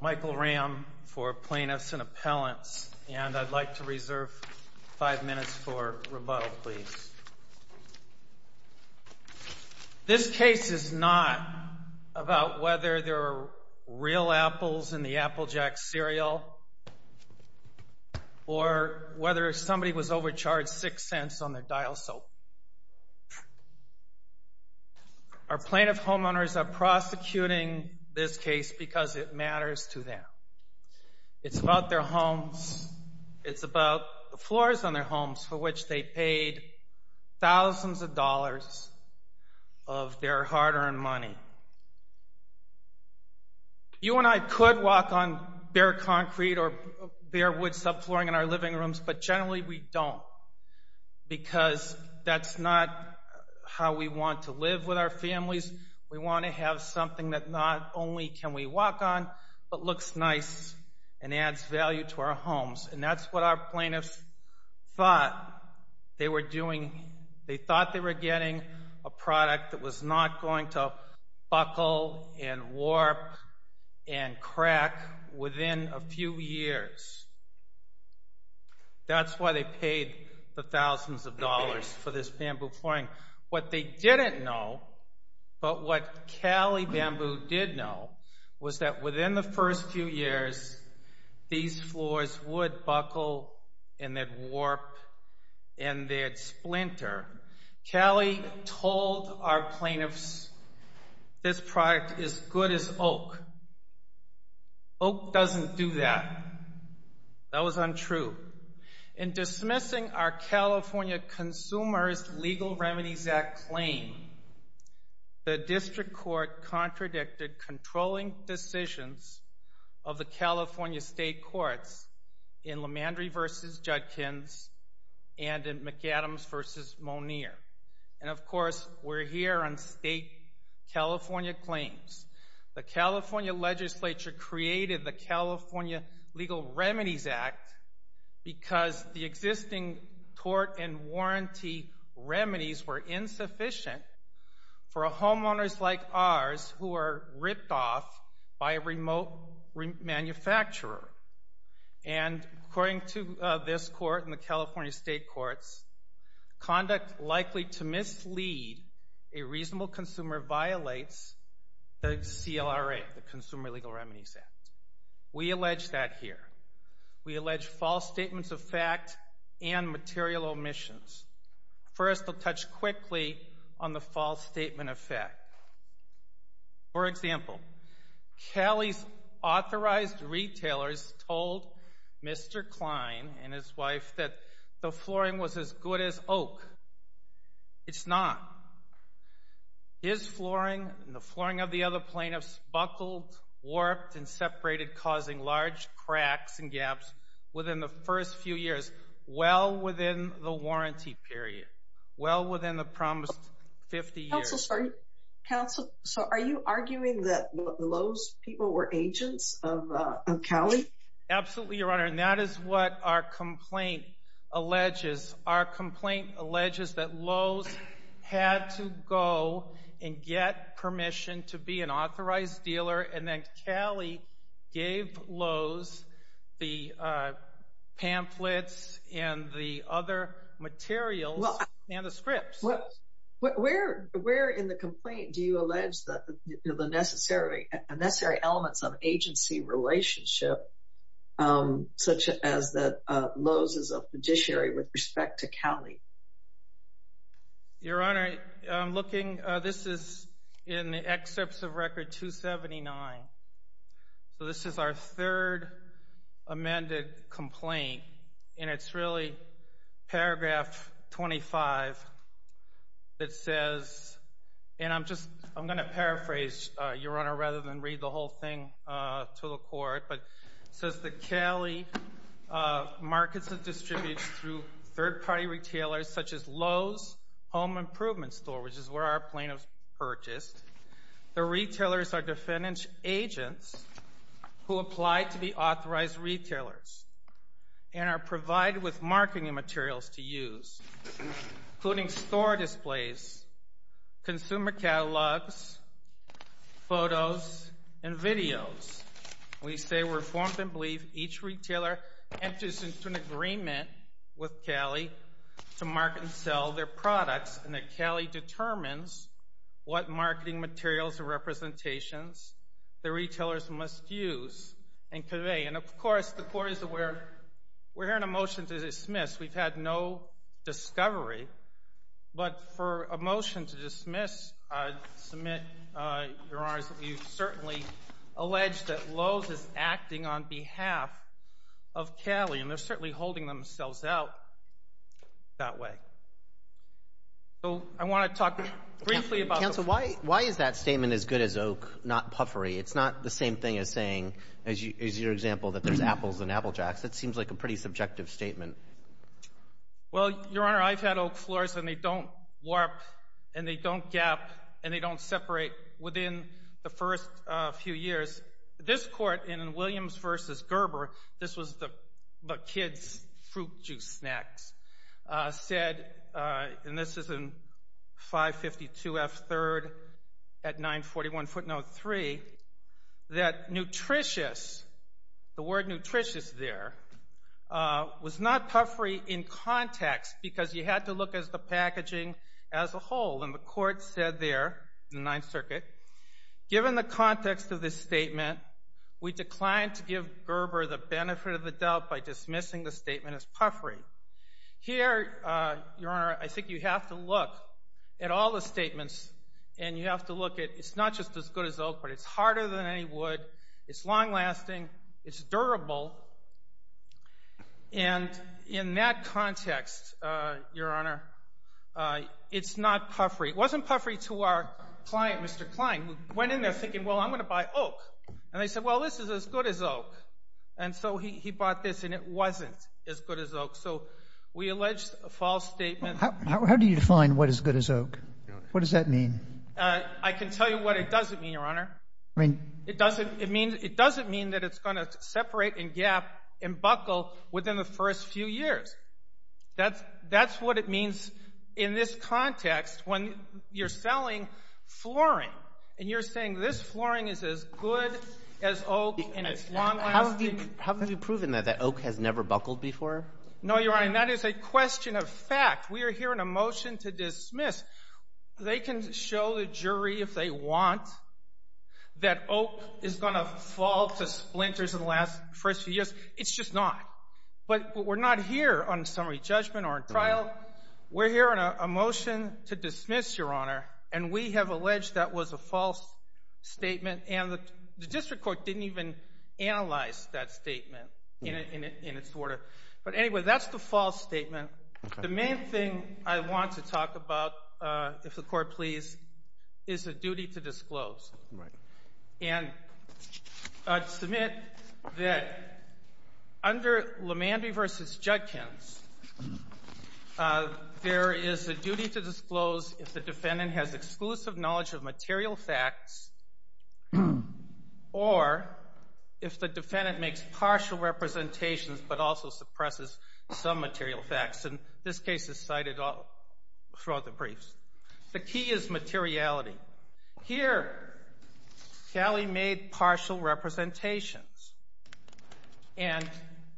Michael Ramm, Plaintiffs & Appellants, LLC This case is not about whether there are real apples in the Applejack cereal or whether somebody was overcharged six cents on their dial soap. Our plaintiff homeowners are prosecuting this case because it matters to them. It's about their homes. It's about the floors on their homes, for which they paid thousands of dollars of their hard-earned money. You and I could walk on bare concrete or bare wood subflooring in our living rooms, but generally we don't because that's not how we want to live with our families. We want to have something that not only can we walk on, but looks nice and adds value to our homes. That's what our plaintiffs thought. They thought they were getting a product that was not going to buckle and warp and crack within a few years. That's why they paid the thousands of dollars for this bamboo flooring. What they didn't know, but what Cali Bamboo did know, was that within the first few years, these floors would buckle and they'd warp and they'd splinter. Cali told our plaintiffs this product is good as oak. Oak doesn't do that. That was untrue. In dismissing our California Consumers Legal Remedies Act, the California legislature created the California Legal Remedies Act because the existing tort and warranty remedies were insufficient for homeowners like ours who are ripped off by a remote manufacturer. According to this court and the California state courts, conduct likely to mislead a reasonable consumer violates the CLRA, the Consumer Legal Remedies Act. We allege that here. We allege false statements of fact and For example, Cali's authorized retailers told Mr. Klein and his wife that the flooring was as good as oak. It's not. His flooring and the flooring of the other plaintiffs buckled, warped and separated, causing large cracks and gaps within the first few years, well within the warranty period, well within the promised 50 years. Counsel, so are you arguing that Lowe's people were agents of Cali? Absolutely, Your Honor. And that is what our complaint alleges. Our complaint alleges that Lowe's had to go and get permission to be an authorized dealer. And then Cali gave Lowe's the pamphlets and the other materials and the scripts. Where in the complaint do you allege that the necessary elements of agency relationship, such as that Lowe's is a fiduciary with respect to Cali? Your Honor, I'm looking. This is in the excerpts of Record 279. So this is our third amended complaint. And it's really paragraph 25 that says, and I'm just I'm going to paraphrase, Your Honor, rather than read the whole thing to the court. But it says that Cali markets and retailers, such as Lowe's Home Improvement Store, which is where our plaintiffs purchased, the retailers are defendant's agents who apply to be authorized retailers and are provided with marketing materials to use, including store displays, consumer catalogs, photos and videos. We say we're informed and believe each retailer enters into an agreement with Cali to market and sell their products and that Cali determines what marketing materials or representations the retailers must use and convey. And, of course, the court is aware. We're hearing a motion to dismiss. We've had no discovery. But for a motion to dismiss, I submit, Your Honor, that you certainly allege that Lowe's is acting on behalf of Cali, and they're certainly holding themselves out that way. So I want to talk briefly about... Counsel, why is that statement, as good as oak, not puffery? It's not the same thing as saying, as your example, that there's apples and apple jacks. That seems like a pretty subjective statement. Well, Your Honor, I've had oak floors and they don't warp and they don't gap and they don't separate within the first few years. This court, in Williams v. Gerber, this was the kids' fruit juice snacks, said, and this is in 552 F. 3rd at 941 Ft. No. 3, that nutritious, the word nutritious there, was not puffery in context because you had to look at the packaging as a 9th Circuit. Given the context of this statement, we declined to give Gerber the benefit of the doubt by dismissing the statement as puffery. Here, Your Honor, I think you have to look at all the statements and you have to look at, it's not just as good as oak, but it's harder than any wood. It's long lasting. It's durable. And in that context, Your Honor, it's not puffery. It was our client, Mr. Klein, who went in there thinking, well, I'm going to buy oak. And they said, well, this is as good as oak. And so he bought this and it wasn't as good as oak. So we allege a false statement. How do you define what is good as oak? What does that mean? I can tell you what it doesn't mean, Your Honor. It doesn't mean that it's going to separate and gap and buckle within the first few years. That's what it means in this context when you're selling flooring. And you're saying this flooring is as good as oak and it's long lasting. How have you proven that oak has never buckled before? No, Your Honor, that is a question of fact. We are here in a motion to dismiss. They can show the jury if they want that oak is going to fall to splinters in the last first few years. It's just not. But we're not here on summary judgment or a trial. We're here on a motion to dismiss, Your Honor. We have alleged that was a false statement. And the district court didn't even analyze that statement in its order. But anyway, that's the false statement. The main thing I want to talk about, if the Court please, is the duty to disclose. And I submit that under LaMandrie v. Judkins, there is a duty to disclose if the defendant has exclusive knowledge of material facts or if the defendant makes partial representations but also suppresses some material facts. And this case is cited throughout the briefs. The key is materiality. Here, Gally made partial representations. And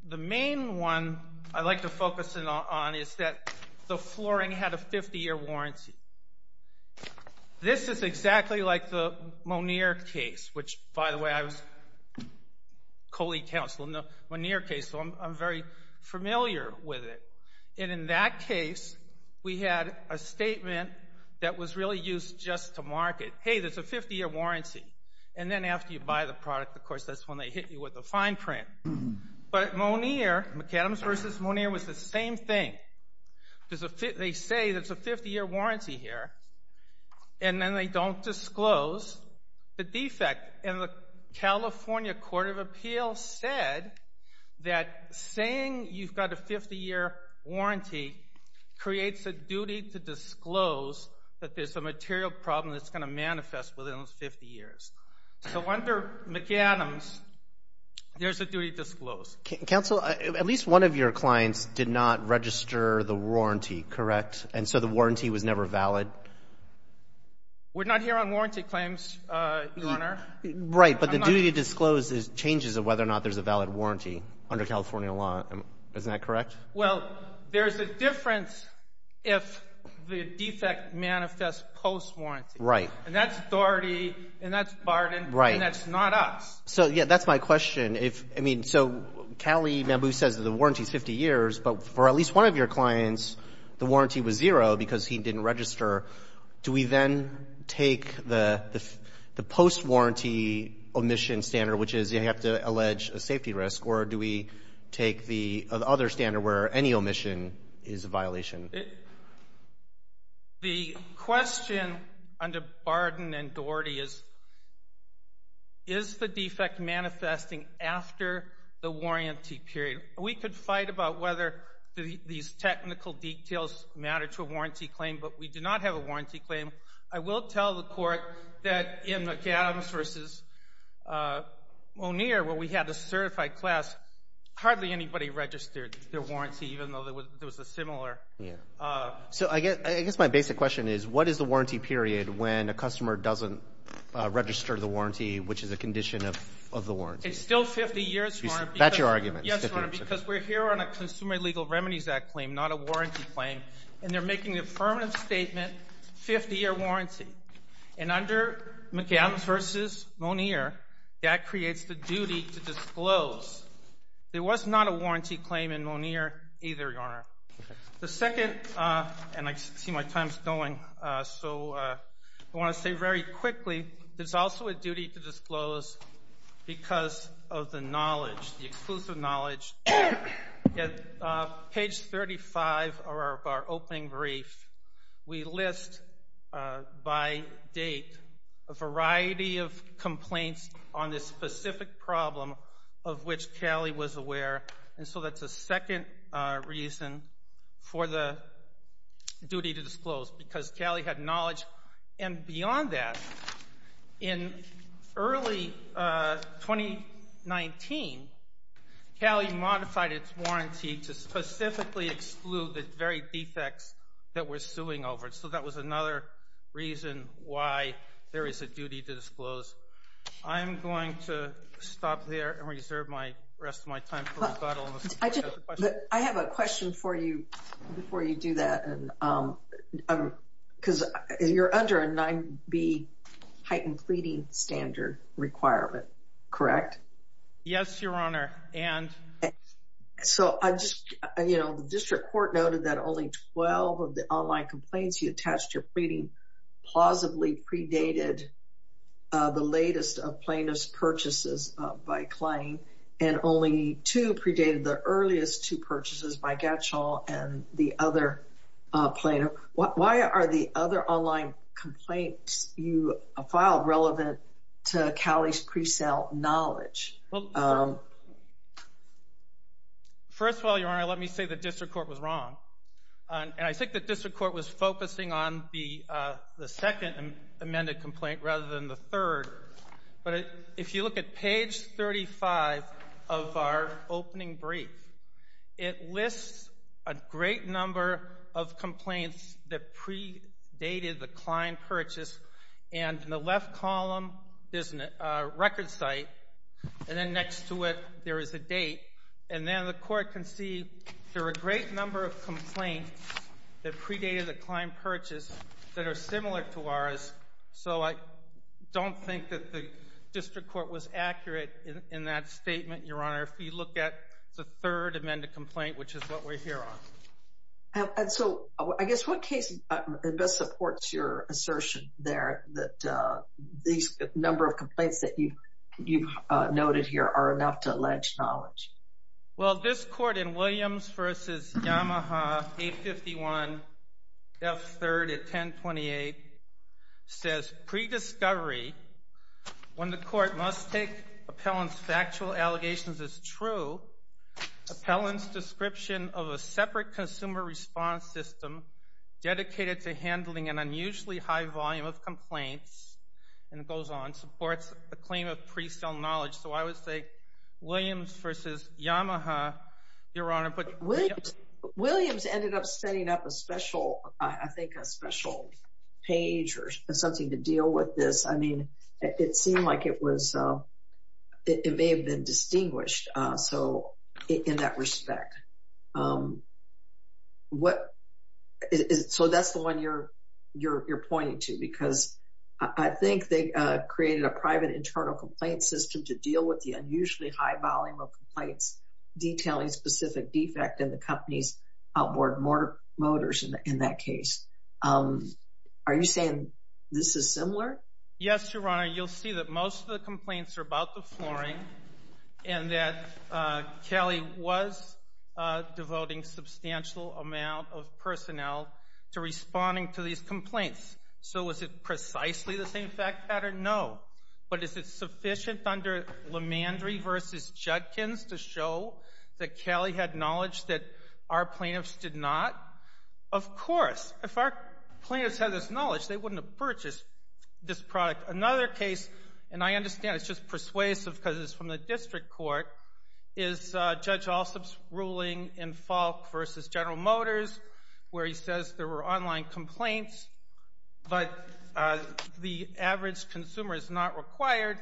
the main one I'd like to focus in on is that the flooring had a 50-year warranty. This is exactly like the Moneer case, which, by the way, I was colleague counsel in the Moneer case, so I'm very familiar with it. And in that case, we had a statement that was really used just to mark it. Hey, there's a 50-year warranty. And then after you buy the product, of course, that's when they hit you with the fine print. But Moneer, McAdams v. Moneer, was the same thing. They say there's a 50-year warranty here, and then they don't disclose the defect. And the California Court of Appeals said that saying you've got a 50-year warranty creates a duty to disclose that there's a material problem that's going to manifest within those 50 years. So under McAdams, there's a duty to disclose. Counsel, at least one of your clients did not register the warranty, correct? And so the warranty was never valid? We're not here on warranty claims, Your Honor. Right, but the duty to disclose is changes of whether or not there's a valid warranty under California law. Isn't that correct? Well, there's a difference if the defect manifests post-warranty. And that's authority, and that's barred, and that's not us. So, yeah, that's my question. So, Cali Mambu says the warranty is 50 years, but for at least one of your clients, the warranty was zero because he didn't register. Do we then take the post-warranty omission standard, which is you have to allege a safety risk, or do we have to barden and doherty? Is the defect manifesting after the warranty period? We could fight about whether these technical details matter to a warranty claim, but we do not have a warranty claim. I will tell the Court that in McAdams v. Moneer, where we had a certified class, hardly anybody registered their warranty, even though there was a similar... So I guess my basic question is, what is the warranty period when a customer doesn't register the warranty, which is a condition of the warranty? It's still 50 years, Your Honor. That's your argument. Yes, Your Honor, because we're here on a Consumer Illegal Remedies Act claim, not a warranty claim, and they're making the affirmative statement, 50-year warranty. And under McAdams v. Moneer, that creates the duty to disclose. There was not a warranty claim in Moneer either, Your Honor. The second, and I see my time's going, so I want to say very quickly, there's also a duty to disclose because of the knowledge, the exclusive knowledge. At page 35 of our opening brief, we list by date a variety of complaints on this specific problem of which Cali was aware. And so that's a second reason for the duty to disclose, because Cali had knowledge. And beyond that, in early 2019, Cali modified its warranty to specifically exclude the very defects that we're suing over. So that was another reason why there is a duty to disclose. I'm going to stop there and reserve the rest of my time for rebuttal. I have a question for you before you do that, because you're under a 9b heightened pleading standard requirement, correct? Yes, Your Honor, and? So I just, you know, the district court noted that only 12 of the online complaints you attached your pleading plausibly predated the latest plaintiff's purchases by claim, and only two predated the earliest two purchases by Gatchall and the other plaintiff. Why are the other online complaints you filed relevant to Cali's pre-sale knowledge? First of all, Your Honor, let me say the district court was wrong. And I think the district court was focusing on the second amended complaint rather than the third. But if you look at page 35 of our opening brief, it lists a great number of complaints that predated the client purchase. And in the left column, there's a record site, and then next to it, there is a date. And then the court can see there are a great number of complaints that predated the client purchase that are similar to ours. So I don't think that the district court was accurate in that statement, Your Honor, if you look at the third amended complaint, which is what we're here on. And so I guess what case best supports your assertion there that these number of complaints that you've noted here are enough to allege knowledge? Well, this court in Williams v. Yamaha 851 F. 3rd at 1028 says, pre-discovery, when the court must take appellant's factual allegations as true, appellant's description of a separate consumer response system dedicated to handling an unusually high volume of complaints, and it goes on, supports a claim of pre-sale knowledge. So I would say Williams v. Yamaha, Your Honor. Williams ended up setting up a special, I think, a special page or something to deal with this. I mean, it seemed like it was, it may have been distinguished. So in that respect, so that's the one you're pointing to because I think they created a private internal complaint system to deal with the unusually high volume of complaints detailing specific defect in the company's outboard motors in that case. Are you saying this is similar? Yes, Your Honor. You'll see that most of the complaints are about the flooring and that Kelly was devoting substantial amount of personnel to responding to these complaints. So was it precisely the same fact pattern? No. But is it sufficient under Lemandry v. Judkins to show that Kelly had knowledge that our plaintiffs did not? Of course. If our plaintiffs had this knowledge, they wouldn't have purchased this product. Another case, and I understand it's persuasive because it's from the district court, is Judge Alsop's ruling in Falk v. General Motors where he says there were online complaints, but the average consumer is not required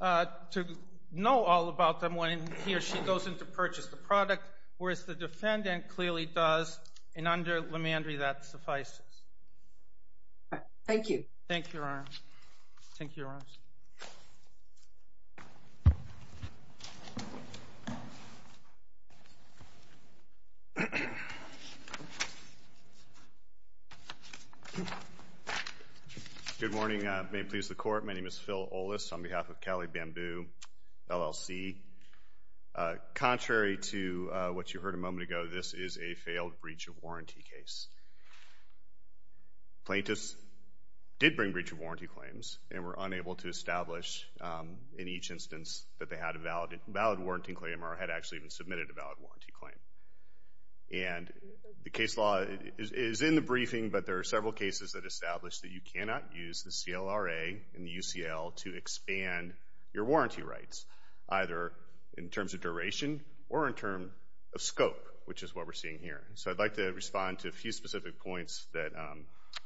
to know all about them when he or she goes in to purchase the product, whereas the defendant clearly does, and under Lemandry that suffices. All right. Thank you. Thank you, Your Honor. Thank you, Your Honors. Good morning. May it please the Court, my name is Phil Ollis on behalf of Cali Bamboo LLC. Contrary to what you heard a moment ago, this is a failed breach of warranty case. Plaintiffs did bring breach of warranty claims and were unable to establish in each instance that they had a valid warranty claim or had actually even submitted a valid warranty claim. And the case law is in the briefing, but there are several cases that establish that you cannot use the CLRA and UCL to expand your warranty rights, either in terms of duration or in terms of scope, which is what we're seeing here. So I'd like to respond to a few specific points that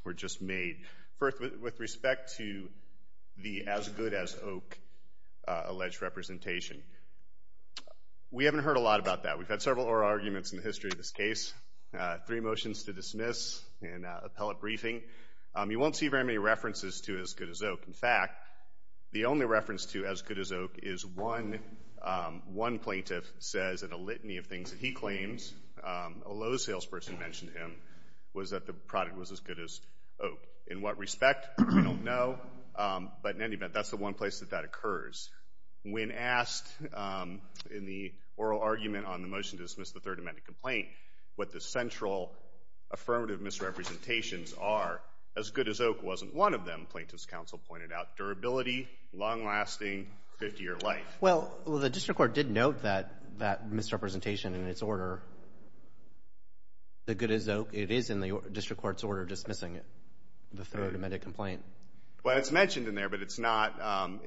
were just made. First, with respect to the as-good-as-oak alleged representation, we haven't heard a lot about that. We've had several oral arguments in the history of this case, three motions to dismiss, and an appellate briefing. You won't see very many references to as-good-as-oak. In fact, the only reference to as-good-as-oak is one plaintiff says in a product was as good as oak. In what respect, we don't know. But in any event, that's the one place that that occurs. When asked in the oral argument on the motion to dismiss the Third Amendment complaint what the central affirmative misrepresentations are, as-good-as-oak wasn't one of them. Plaintiffs' counsel pointed out durability, long-lasting, 50-year life. Well, the district court did note that misrepresentation in its order, the good-as-oak, it is in the district court's order dismissing it, the Third Amendment complaint. Well, it's mentioned in there, but it's not.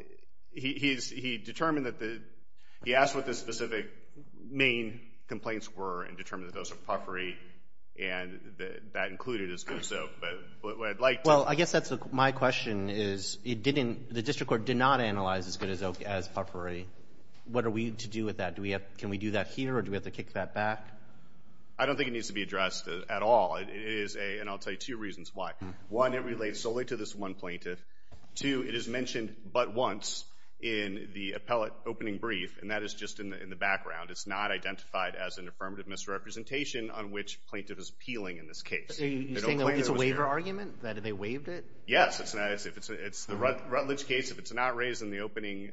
He determined that the, he asked what the specific main complaints were and determined that those were puffery and that included as-good-as-oak. But what I'd like to... Well, I guess that's my question is, it didn't, the district court did not analyze as-good-as-oak as puffery. What are we to do with that? Do we have, can we do that here or do we have to kick that back? I don't think it needs to be addressed at all. It is a, and I'll tell you two reasons why. One, it relates solely to this one plaintiff. Two, it is mentioned but once in the appellate opening brief and that is just in the background. It's not identified as an affirmative misrepresentation on which plaintiff is appealing in this case. You're saying it's a waiver argument, that they waived it? Yes, it's not, it's the Rutledge case, if it's not raised in the opening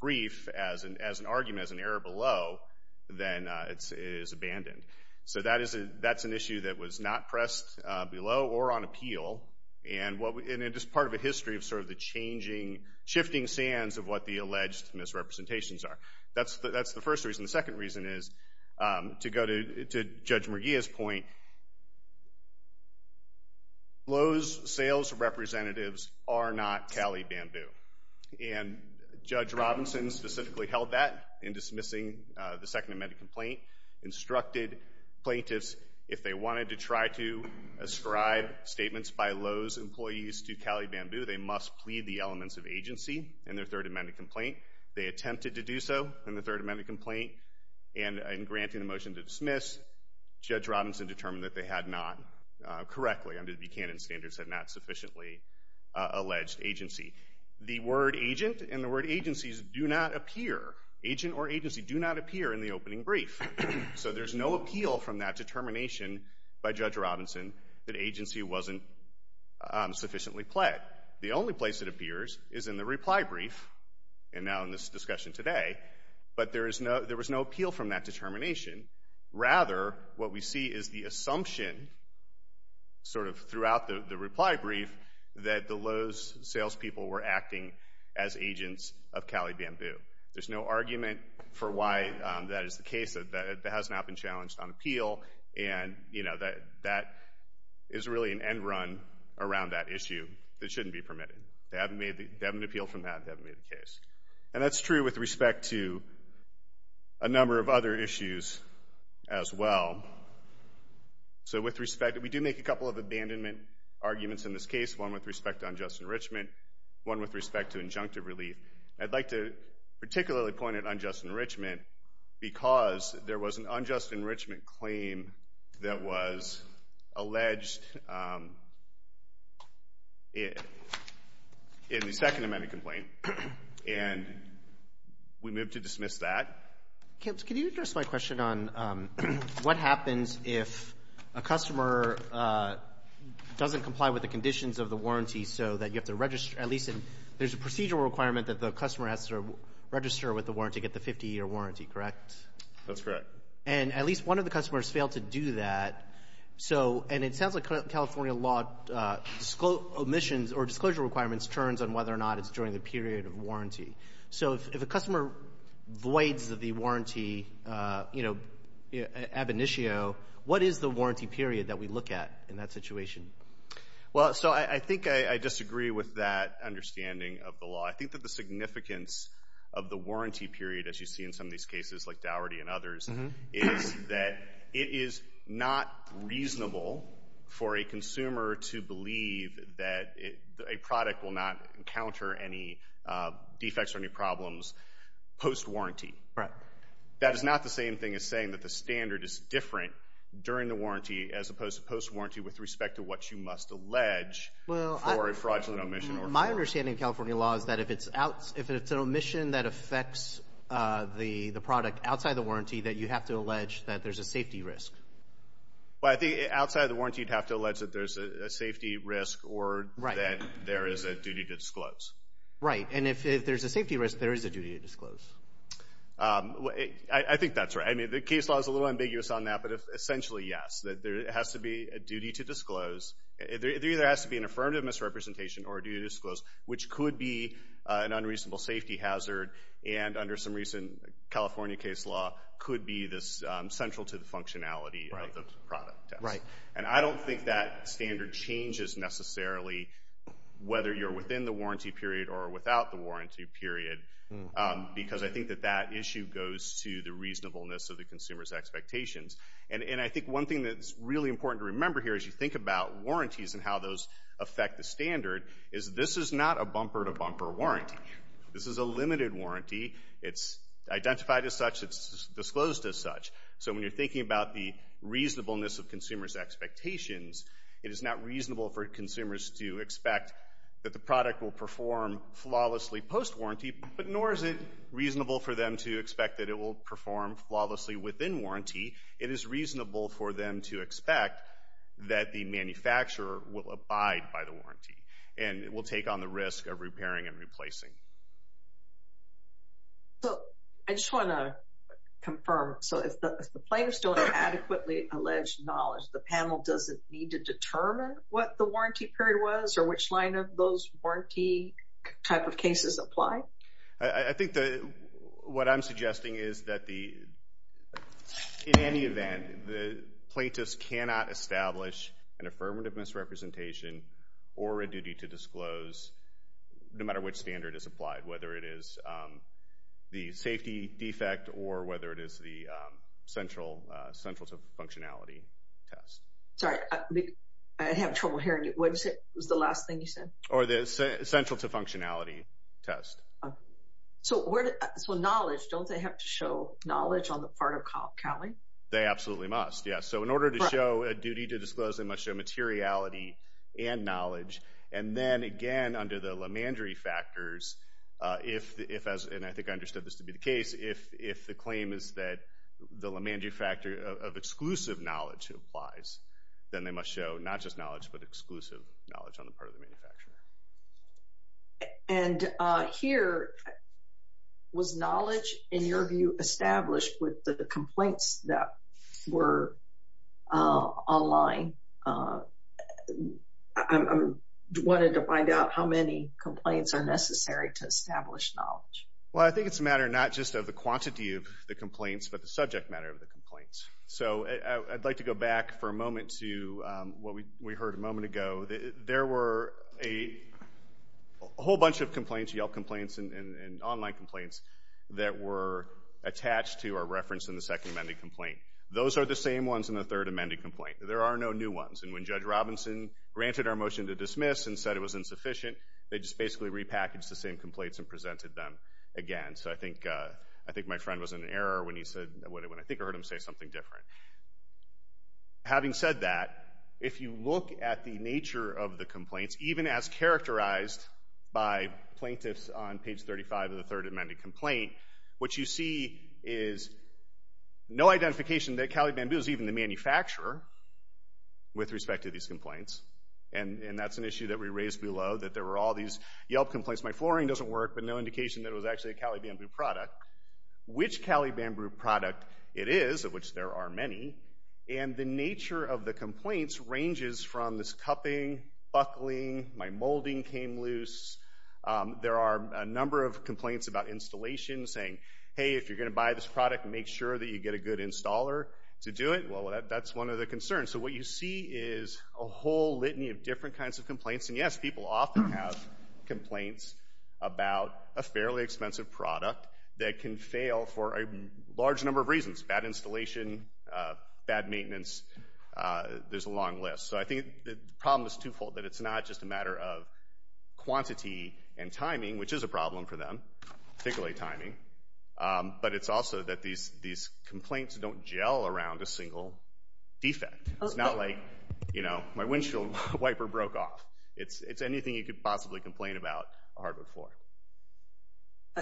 brief as an argument, as an error below, then it is abandoned. So that is a, that's an issue that was not pressed below or on appeal and what, and it is part of a history of sort of the changing, shifting sands of what the alleged misrepresentations are. That's the, that's the first reason. The second reason is, to go to Judge Murgia's point, Lowe's sales representatives are not Cali Bamboo. And Judge Robinson specifically held that in dismissing the Second Amendment complaint, instructed plaintiffs, if they wanted to try to ascribe statements by Lowe's employees to Cali Bamboo, they must plead the elements of agency in their Third Amendment complaint. They attempted to do so in the Third Amendment complaint and in granting a motion to dismiss, Judge Robinson determined that they had not correctly, under Buchanan standards, had not sufficiently alleged agency. The word agent and the word agencies do not appear, agent or agency do not appear in the opening brief. So there's no appeal from that determination by Judge Robinson that agency wasn't sufficiently pled. The only place it appears is in the reply brief, and now in this discussion today, but there is no, there was no appeal from that determination. Rather, what we see is the assumption, sort of throughout the reply brief, that the Lowe's salespeople were acting as agents of Cali Bamboo. There's no argument for why that is the case. That has not been challenged on appeal. And, you know, that, that is really an end run around that issue that shouldn't be permitted. They haven't made, they haven't appealed from that, they haven't made the case. And that's true with respect to a number of other issues as well. So with respect, we do make a couple of abandonment arguments in this case, one with respect to unjust enrichment, one with respect to injunctive relief. I'd like to particularly point at unjust enrichment because there was an unjust enrichment claim that was alleged in the Second Amendment complaint, and we move to dismiss that. Can you address my question on what happens if a customer doesn't comply with the conditions of the warranty so that you have to register, at least, there's a procedural requirement that the customer has to register with the warranty, get the 50-year warranty, correct? That's correct. And at least one of the customers failed to do that. So, and it sounds like California law omissions or disclosure requirements turns on whether or not it's during the period of warranty. So if a customer voids the warranty, you know, ab initio, what is the warranty period that we look at in that situation? Well, so I think I disagree with that understanding of the law. I think that the significance of the warranty period, as you see in some of these cases like Daugherty and others, is that it is not reasonable for a consumer to believe that a product will not encounter any defects or any problems post-warranty. Right. That is not the same thing as saying that the standard is different during the warranty as opposed to post-warranty with respect to what you must allege for a fraudulent omission. My understanding of California law is that if it's an omission that affects the product outside the warranty, that you have to allege that there's a safety risk. Well, I think outside of the warranty, you'd have to allege that there's a safety risk or that there is a duty to disclose. Right. And if there's a safety risk, there is a duty to disclose. I think that's right. I mean, the case law is a little ambiguous on that, but essentially, yes, that there has to be a duty to disclose. There either has to be an affirmative misrepresentation or a duty to disclose, which could be an unreasonable safety hazard. And under some recent California case law, could be this central to the functionality of the product. Right. And I don't think that standard changes necessarily whether you're within the warranty period or without the warranty period, because I think that that issue goes to the reasonableness of the consumer's expectations. And I think one thing that's really important to remember here as you think about warranties and how those affect the standard is this is not a bumper-to-bumper warranty. This is a limited warranty. It's identified as such. It's disclosed as such. So when you're thinking about the reasonableness of consumer's expectations, it is not reasonable for consumers to expect that the product will perform flawlessly post-warranty, but nor is it reasonable for them to expect that it will perform flawlessly within warranty. It is reasonable for them to expect that the manufacturer will abide by the warranty and will take on the risk of repairing and replacing. So I just want to confirm. So if the plaintiffs don't have adequately alleged knowledge, the panel doesn't need to determine what the warranty period was or which line of those warranty type of cases apply? I think that what I'm suggesting is that the, in any event, the plaintiffs cannot establish an affirmative misrepresentation or a duty to disclose no matter which standard is applied, whether it is the safety defect or whether it is the central to functionality test. Sorry, I have trouble hearing you. What was the last thing you said? Or the central to functionality test. So where, so knowledge, don't they have to show knowledge on the part of Cali? They absolutely must, yes. So in order to show a duty to disclose, they must show materiality and knowledge. And then again, under the LaMandry factors, if, and I think I understood this to be the case, if the claim is that the LaMandry factor of exclusive knowledge applies, then they must show not just knowledge, but exclusive knowledge on And here, was knowledge, in your view, established with the complaints that were online? I wanted to find out how many complaints are necessary to establish knowledge. Well, I think it's a matter not just of the quantity of the complaints, but the subject matter of the complaints. So I'd like to go back for a moment to what we heard a moment ago. There were a whole bunch of complaints, Yelp complaints and online complaints, that were attached to or referenced in the second amended complaint. Those are the same ones in the third amended complaint. There are no new ones. And when Judge Robinson granted our motion to dismiss and said it was insufficient, they just basically repackaged the same complaints and presented them again. So I think my friend was in error when he said, when I think I heard him say something different. Having said that, if you look at the nature of the complaints, even as characterized by plaintiffs on page 35 of the third amended complaint, what you see is no identification that Cali Bamboo is even the manufacturer with respect to these complaints. And that's an issue that we raised below, that there were all these Yelp complaints, my flooring doesn't work, but no indication that it was actually a Cali Bamboo product. Which Cali Bamboo product it is, of which there are many, and the nature of the complaints ranges from this cupping, buckling, my molding came loose. There are a number of complaints about installation saying, hey, if you're going to buy this product, make sure that you get a good installer to do it. Well, that's one of the concerns. So what you see is a whole litany of different kinds of complaints. And yes, people often have complaints about a fairly expensive product that can fail for a large number of reasons. Bad installation, bad maintenance, there's a long list. So I think the problem is twofold, that it's not just a matter of quantity and timing, which is a problem for them, particularly timing, but it's also that these complaints don't gel around a single defect. It's not like, you know, my windshield wiper broke off. It's anything you could possibly complain about a hardwood floor.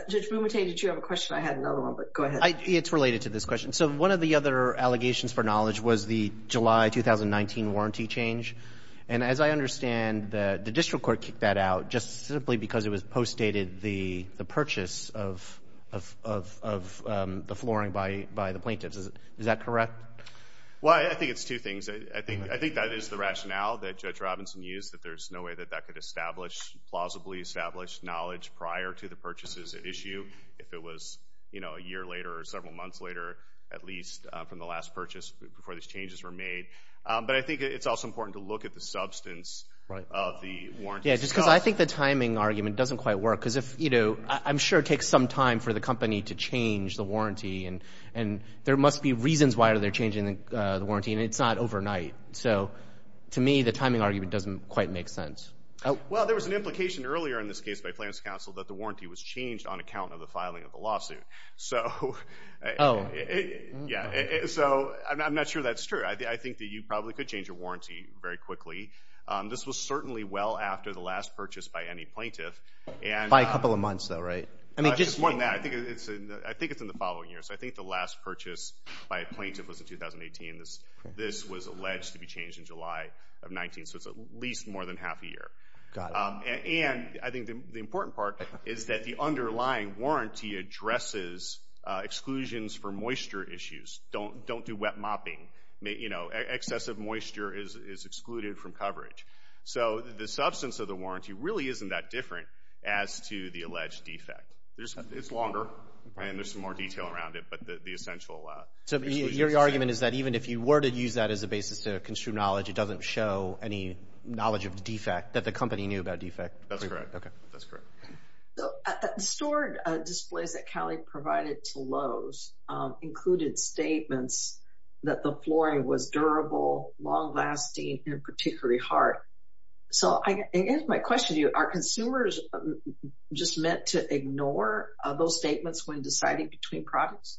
Judge Bumatane, did you have a question? I had another one, but go ahead. It's related to this question. So one of the other allegations for knowledge was the July 2019 warranty change. And as I understand, the district court kicked that out just simply because it was postdated the purchase of the flooring by the plaintiffs. Is that correct? Well, I think it's two things. I think that is the rationale that Judge Robinson used, that there's no way that that could establish, plausibly establish knowledge prior to the purchases at issue if it was, you know, a year later or several months later, at least from the last purchase before these changes were made. But I think it's also important to look at the substance of the warranty. Yeah, just because I think the timing argument doesn't quite work, because if, you know, I'm sure it takes some time for the company to change the warranty, and there must be reasons why they're changing the warranty, and it's not overnight. So to me, the timing argument doesn't quite make sense. Well, there was an implication earlier in this case by Plaintiff's Counsel that the warranty was changed on account of the filing of the lawsuit. So, yeah. So I'm not sure that's true. I think that you probably could change your warranty very quickly. This was certainly well after the last purchase by any plaintiff. By a couple of months, though, right? I think it's in the following year. So I think the last more than half a year. And I think the important part is that the underlying warranty addresses exclusions for moisture issues. Don't do wet mopping. You know, excessive moisture is excluded from coverage. So the substance of the warranty really isn't that different as to the alleged defect. It's longer, and there's some more detail around it, but the essential... Your argument is that even if you were to use that as a basis to construe knowledge, it doesn't show any knowledge of the defect that the company knew about defect. That's correct. That's correct. Stored displays that Cali provided to Lowe's included statements that the flooring was durable, long-lasting, and particularly hard. So I guess my question to you, are consumers just meant to ignore those statements when deciding between products?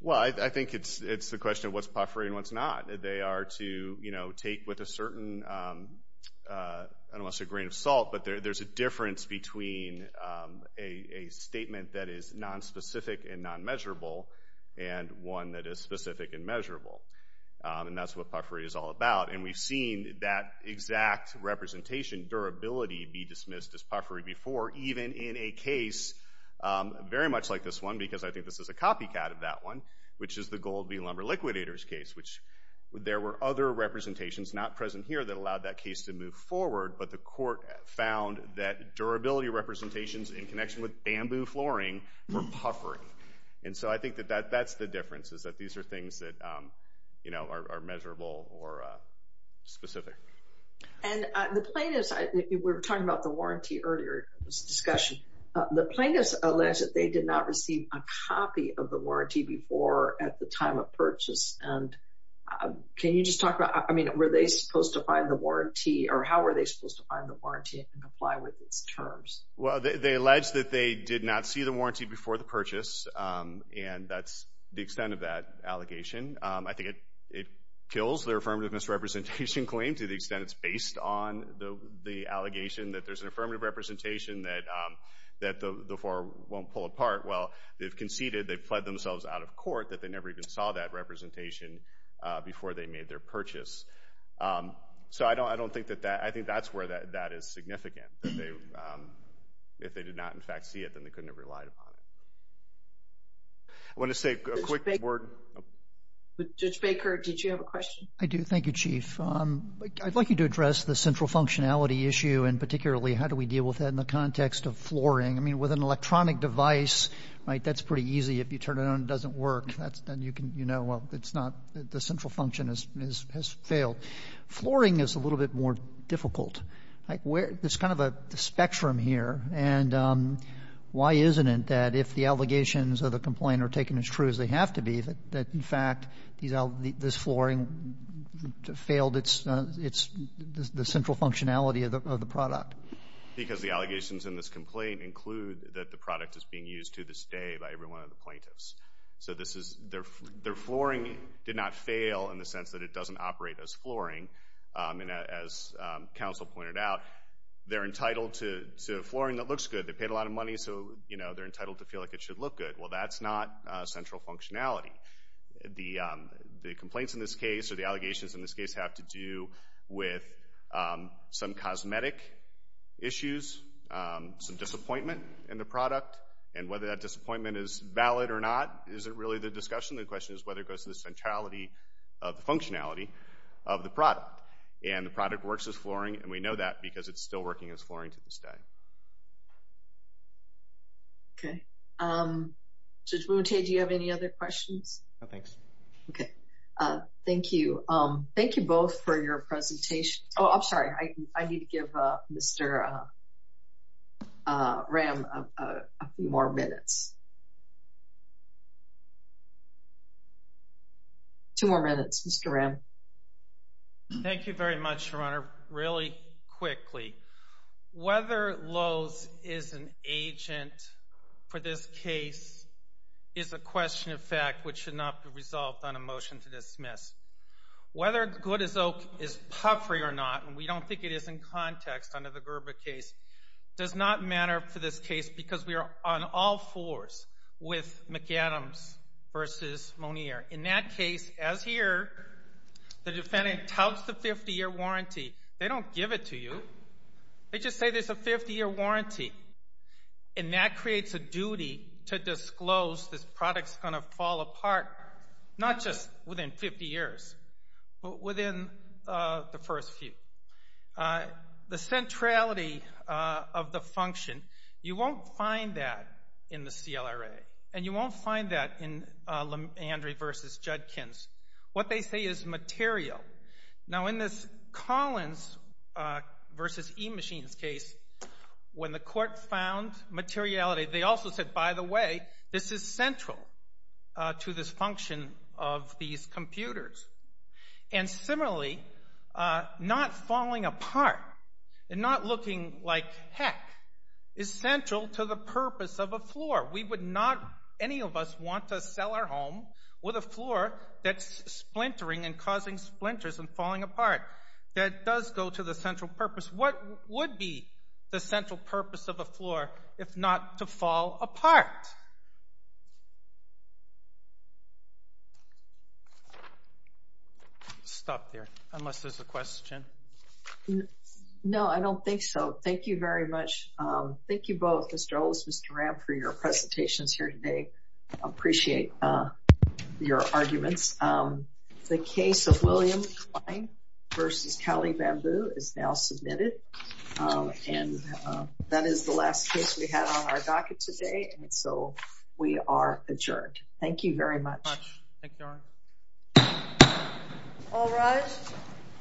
Well, I think it's the question of what's puffery and what's not. They are to, you know, take with a certain, I don't want to say grain of salt, but there's a difference between a statement that is nonspecific and non-measurable and one that is specific and measurable. And that's what puffery is all about. And we've seen that exact representation, durability, be dismissed as puffery before, even in a case very much like this one, because I think this is a copycat of that one, which is the Gold Bean Lumber Liquidators case, which there were other representations not present here that allowed that case to move forward. But the court found that durability representations in connection with bamboo flooring were puffery. And so I think that that's the difference, is that these are things that, you know, are measurable or specific. And the plaintiffs, we were talking about the warranty earlier in this discussion. The plaintiffs allege that they did not receive a copy of the warranty before at the time of purchase. And can you just talk about, I mean, were they supposed to find the warranty or how were they supposed to find the warranty and apply with its terms? Well, they allege that they did not see the warranty before the purchase. And that's the extent of that allegation. I think it kills their affirmative misrepresentation claim to the extent it's based on the allegation that there's an affirmative representation that the four won't pull apart. Well, they've conceded, they've fled themselves out of court, that they never even saw that representation before they made their purchase. So I don't think that that, I think that's where that is significant, that they, if they did not, in fact, see it, then they couldn't have relied upon it. I want to say a quick word. Judge Baker, did you have a question? I do. Thank you, Chief. I'd like you to address the central functionality issue and particularly how do we deal with that in the context of flooring? I mean, with an electronic device, right, that's pretty easy. If you turn it on, it doesn't work. That's, then you can, you know, well, it's not, the central function has failed. Flooring is a little bit more difficult. Like where, there's kind of a spectrum here. And why isn't it that if the allegations of the complaint are taken as true as they have to be, that, in fact, this flooring failed its, the central functionality of the product? Because the allegations in this complaint include that the product is being used to this day by every one of the plaintiffs. So this is, their flooring did not fail in the sense that it doesn't operate as flooring. And as counsel pointed out, they're entitled to flooring that looks good. They paid a lot of money, so, you know, they're entitled to feel like it should look good. Well, that's not central functionality. The complaints in this case, or the allegations in this case, have to do with some cosmetic issues, some disappointment in the product, and whether that disappointment is valid or not isn't really the discussion. The question is whether it goes to the centrality of the functionality of the product. And the product works as flooring, and we know that because it's still working as flooring to this day. Okay. Judge Mounte, do you have any other questions? No, thanks. Okay. Thank you. Thank you both for your presentations. Oh, I'm sorry. I need to give Mr. Ram a few more minutes. Two more minutes, Mr. Ram. Thank you very much, Your Honor. Really quickly, whether Lowe's is an agent for this case is a question of fact, which should not be resolved on a motion to dismiss. Whether Good as Oak is puffery or not, and we don't think it is in context under the Gerber case, does not matter for this case because we are on all fours with McAdams versus Monier. In that case, as here, the defendant touts the 50-year warranty. They don't give it to you. They just say there's a 50-year warranty, and that creates a duty to disclose this product's going to fall apart, not just within 50 years, but within the first few. The centrality of the function, you won't find that in the CLRA, and you won't find that in Landry versus Judkins. What they say is material. Now, in this Collins versus E-Machines case, when the court found materiality, they also said, by the way, this is central to this function of these computers. And similarly, not falling apart and not looking like heck is central to the purpose of a floor. We would not, any of us, want to sell our home with a floor that's splintering and causing splinters and falling apart. That does go to the central purpose. What would be the central purpose of a floor if not to fall apart? Stop there, unless there's a question. No, I don't think so. Thank you very much. Thank you both, Mr. Olson and Mr. Ram, for your presentations here today. I appreciate your arguments. The case of William Klein versus Kelly Bamboo is now submitted, and that is the last case we had on our docket today, and so we are adjourned. Thank you very much. All rise.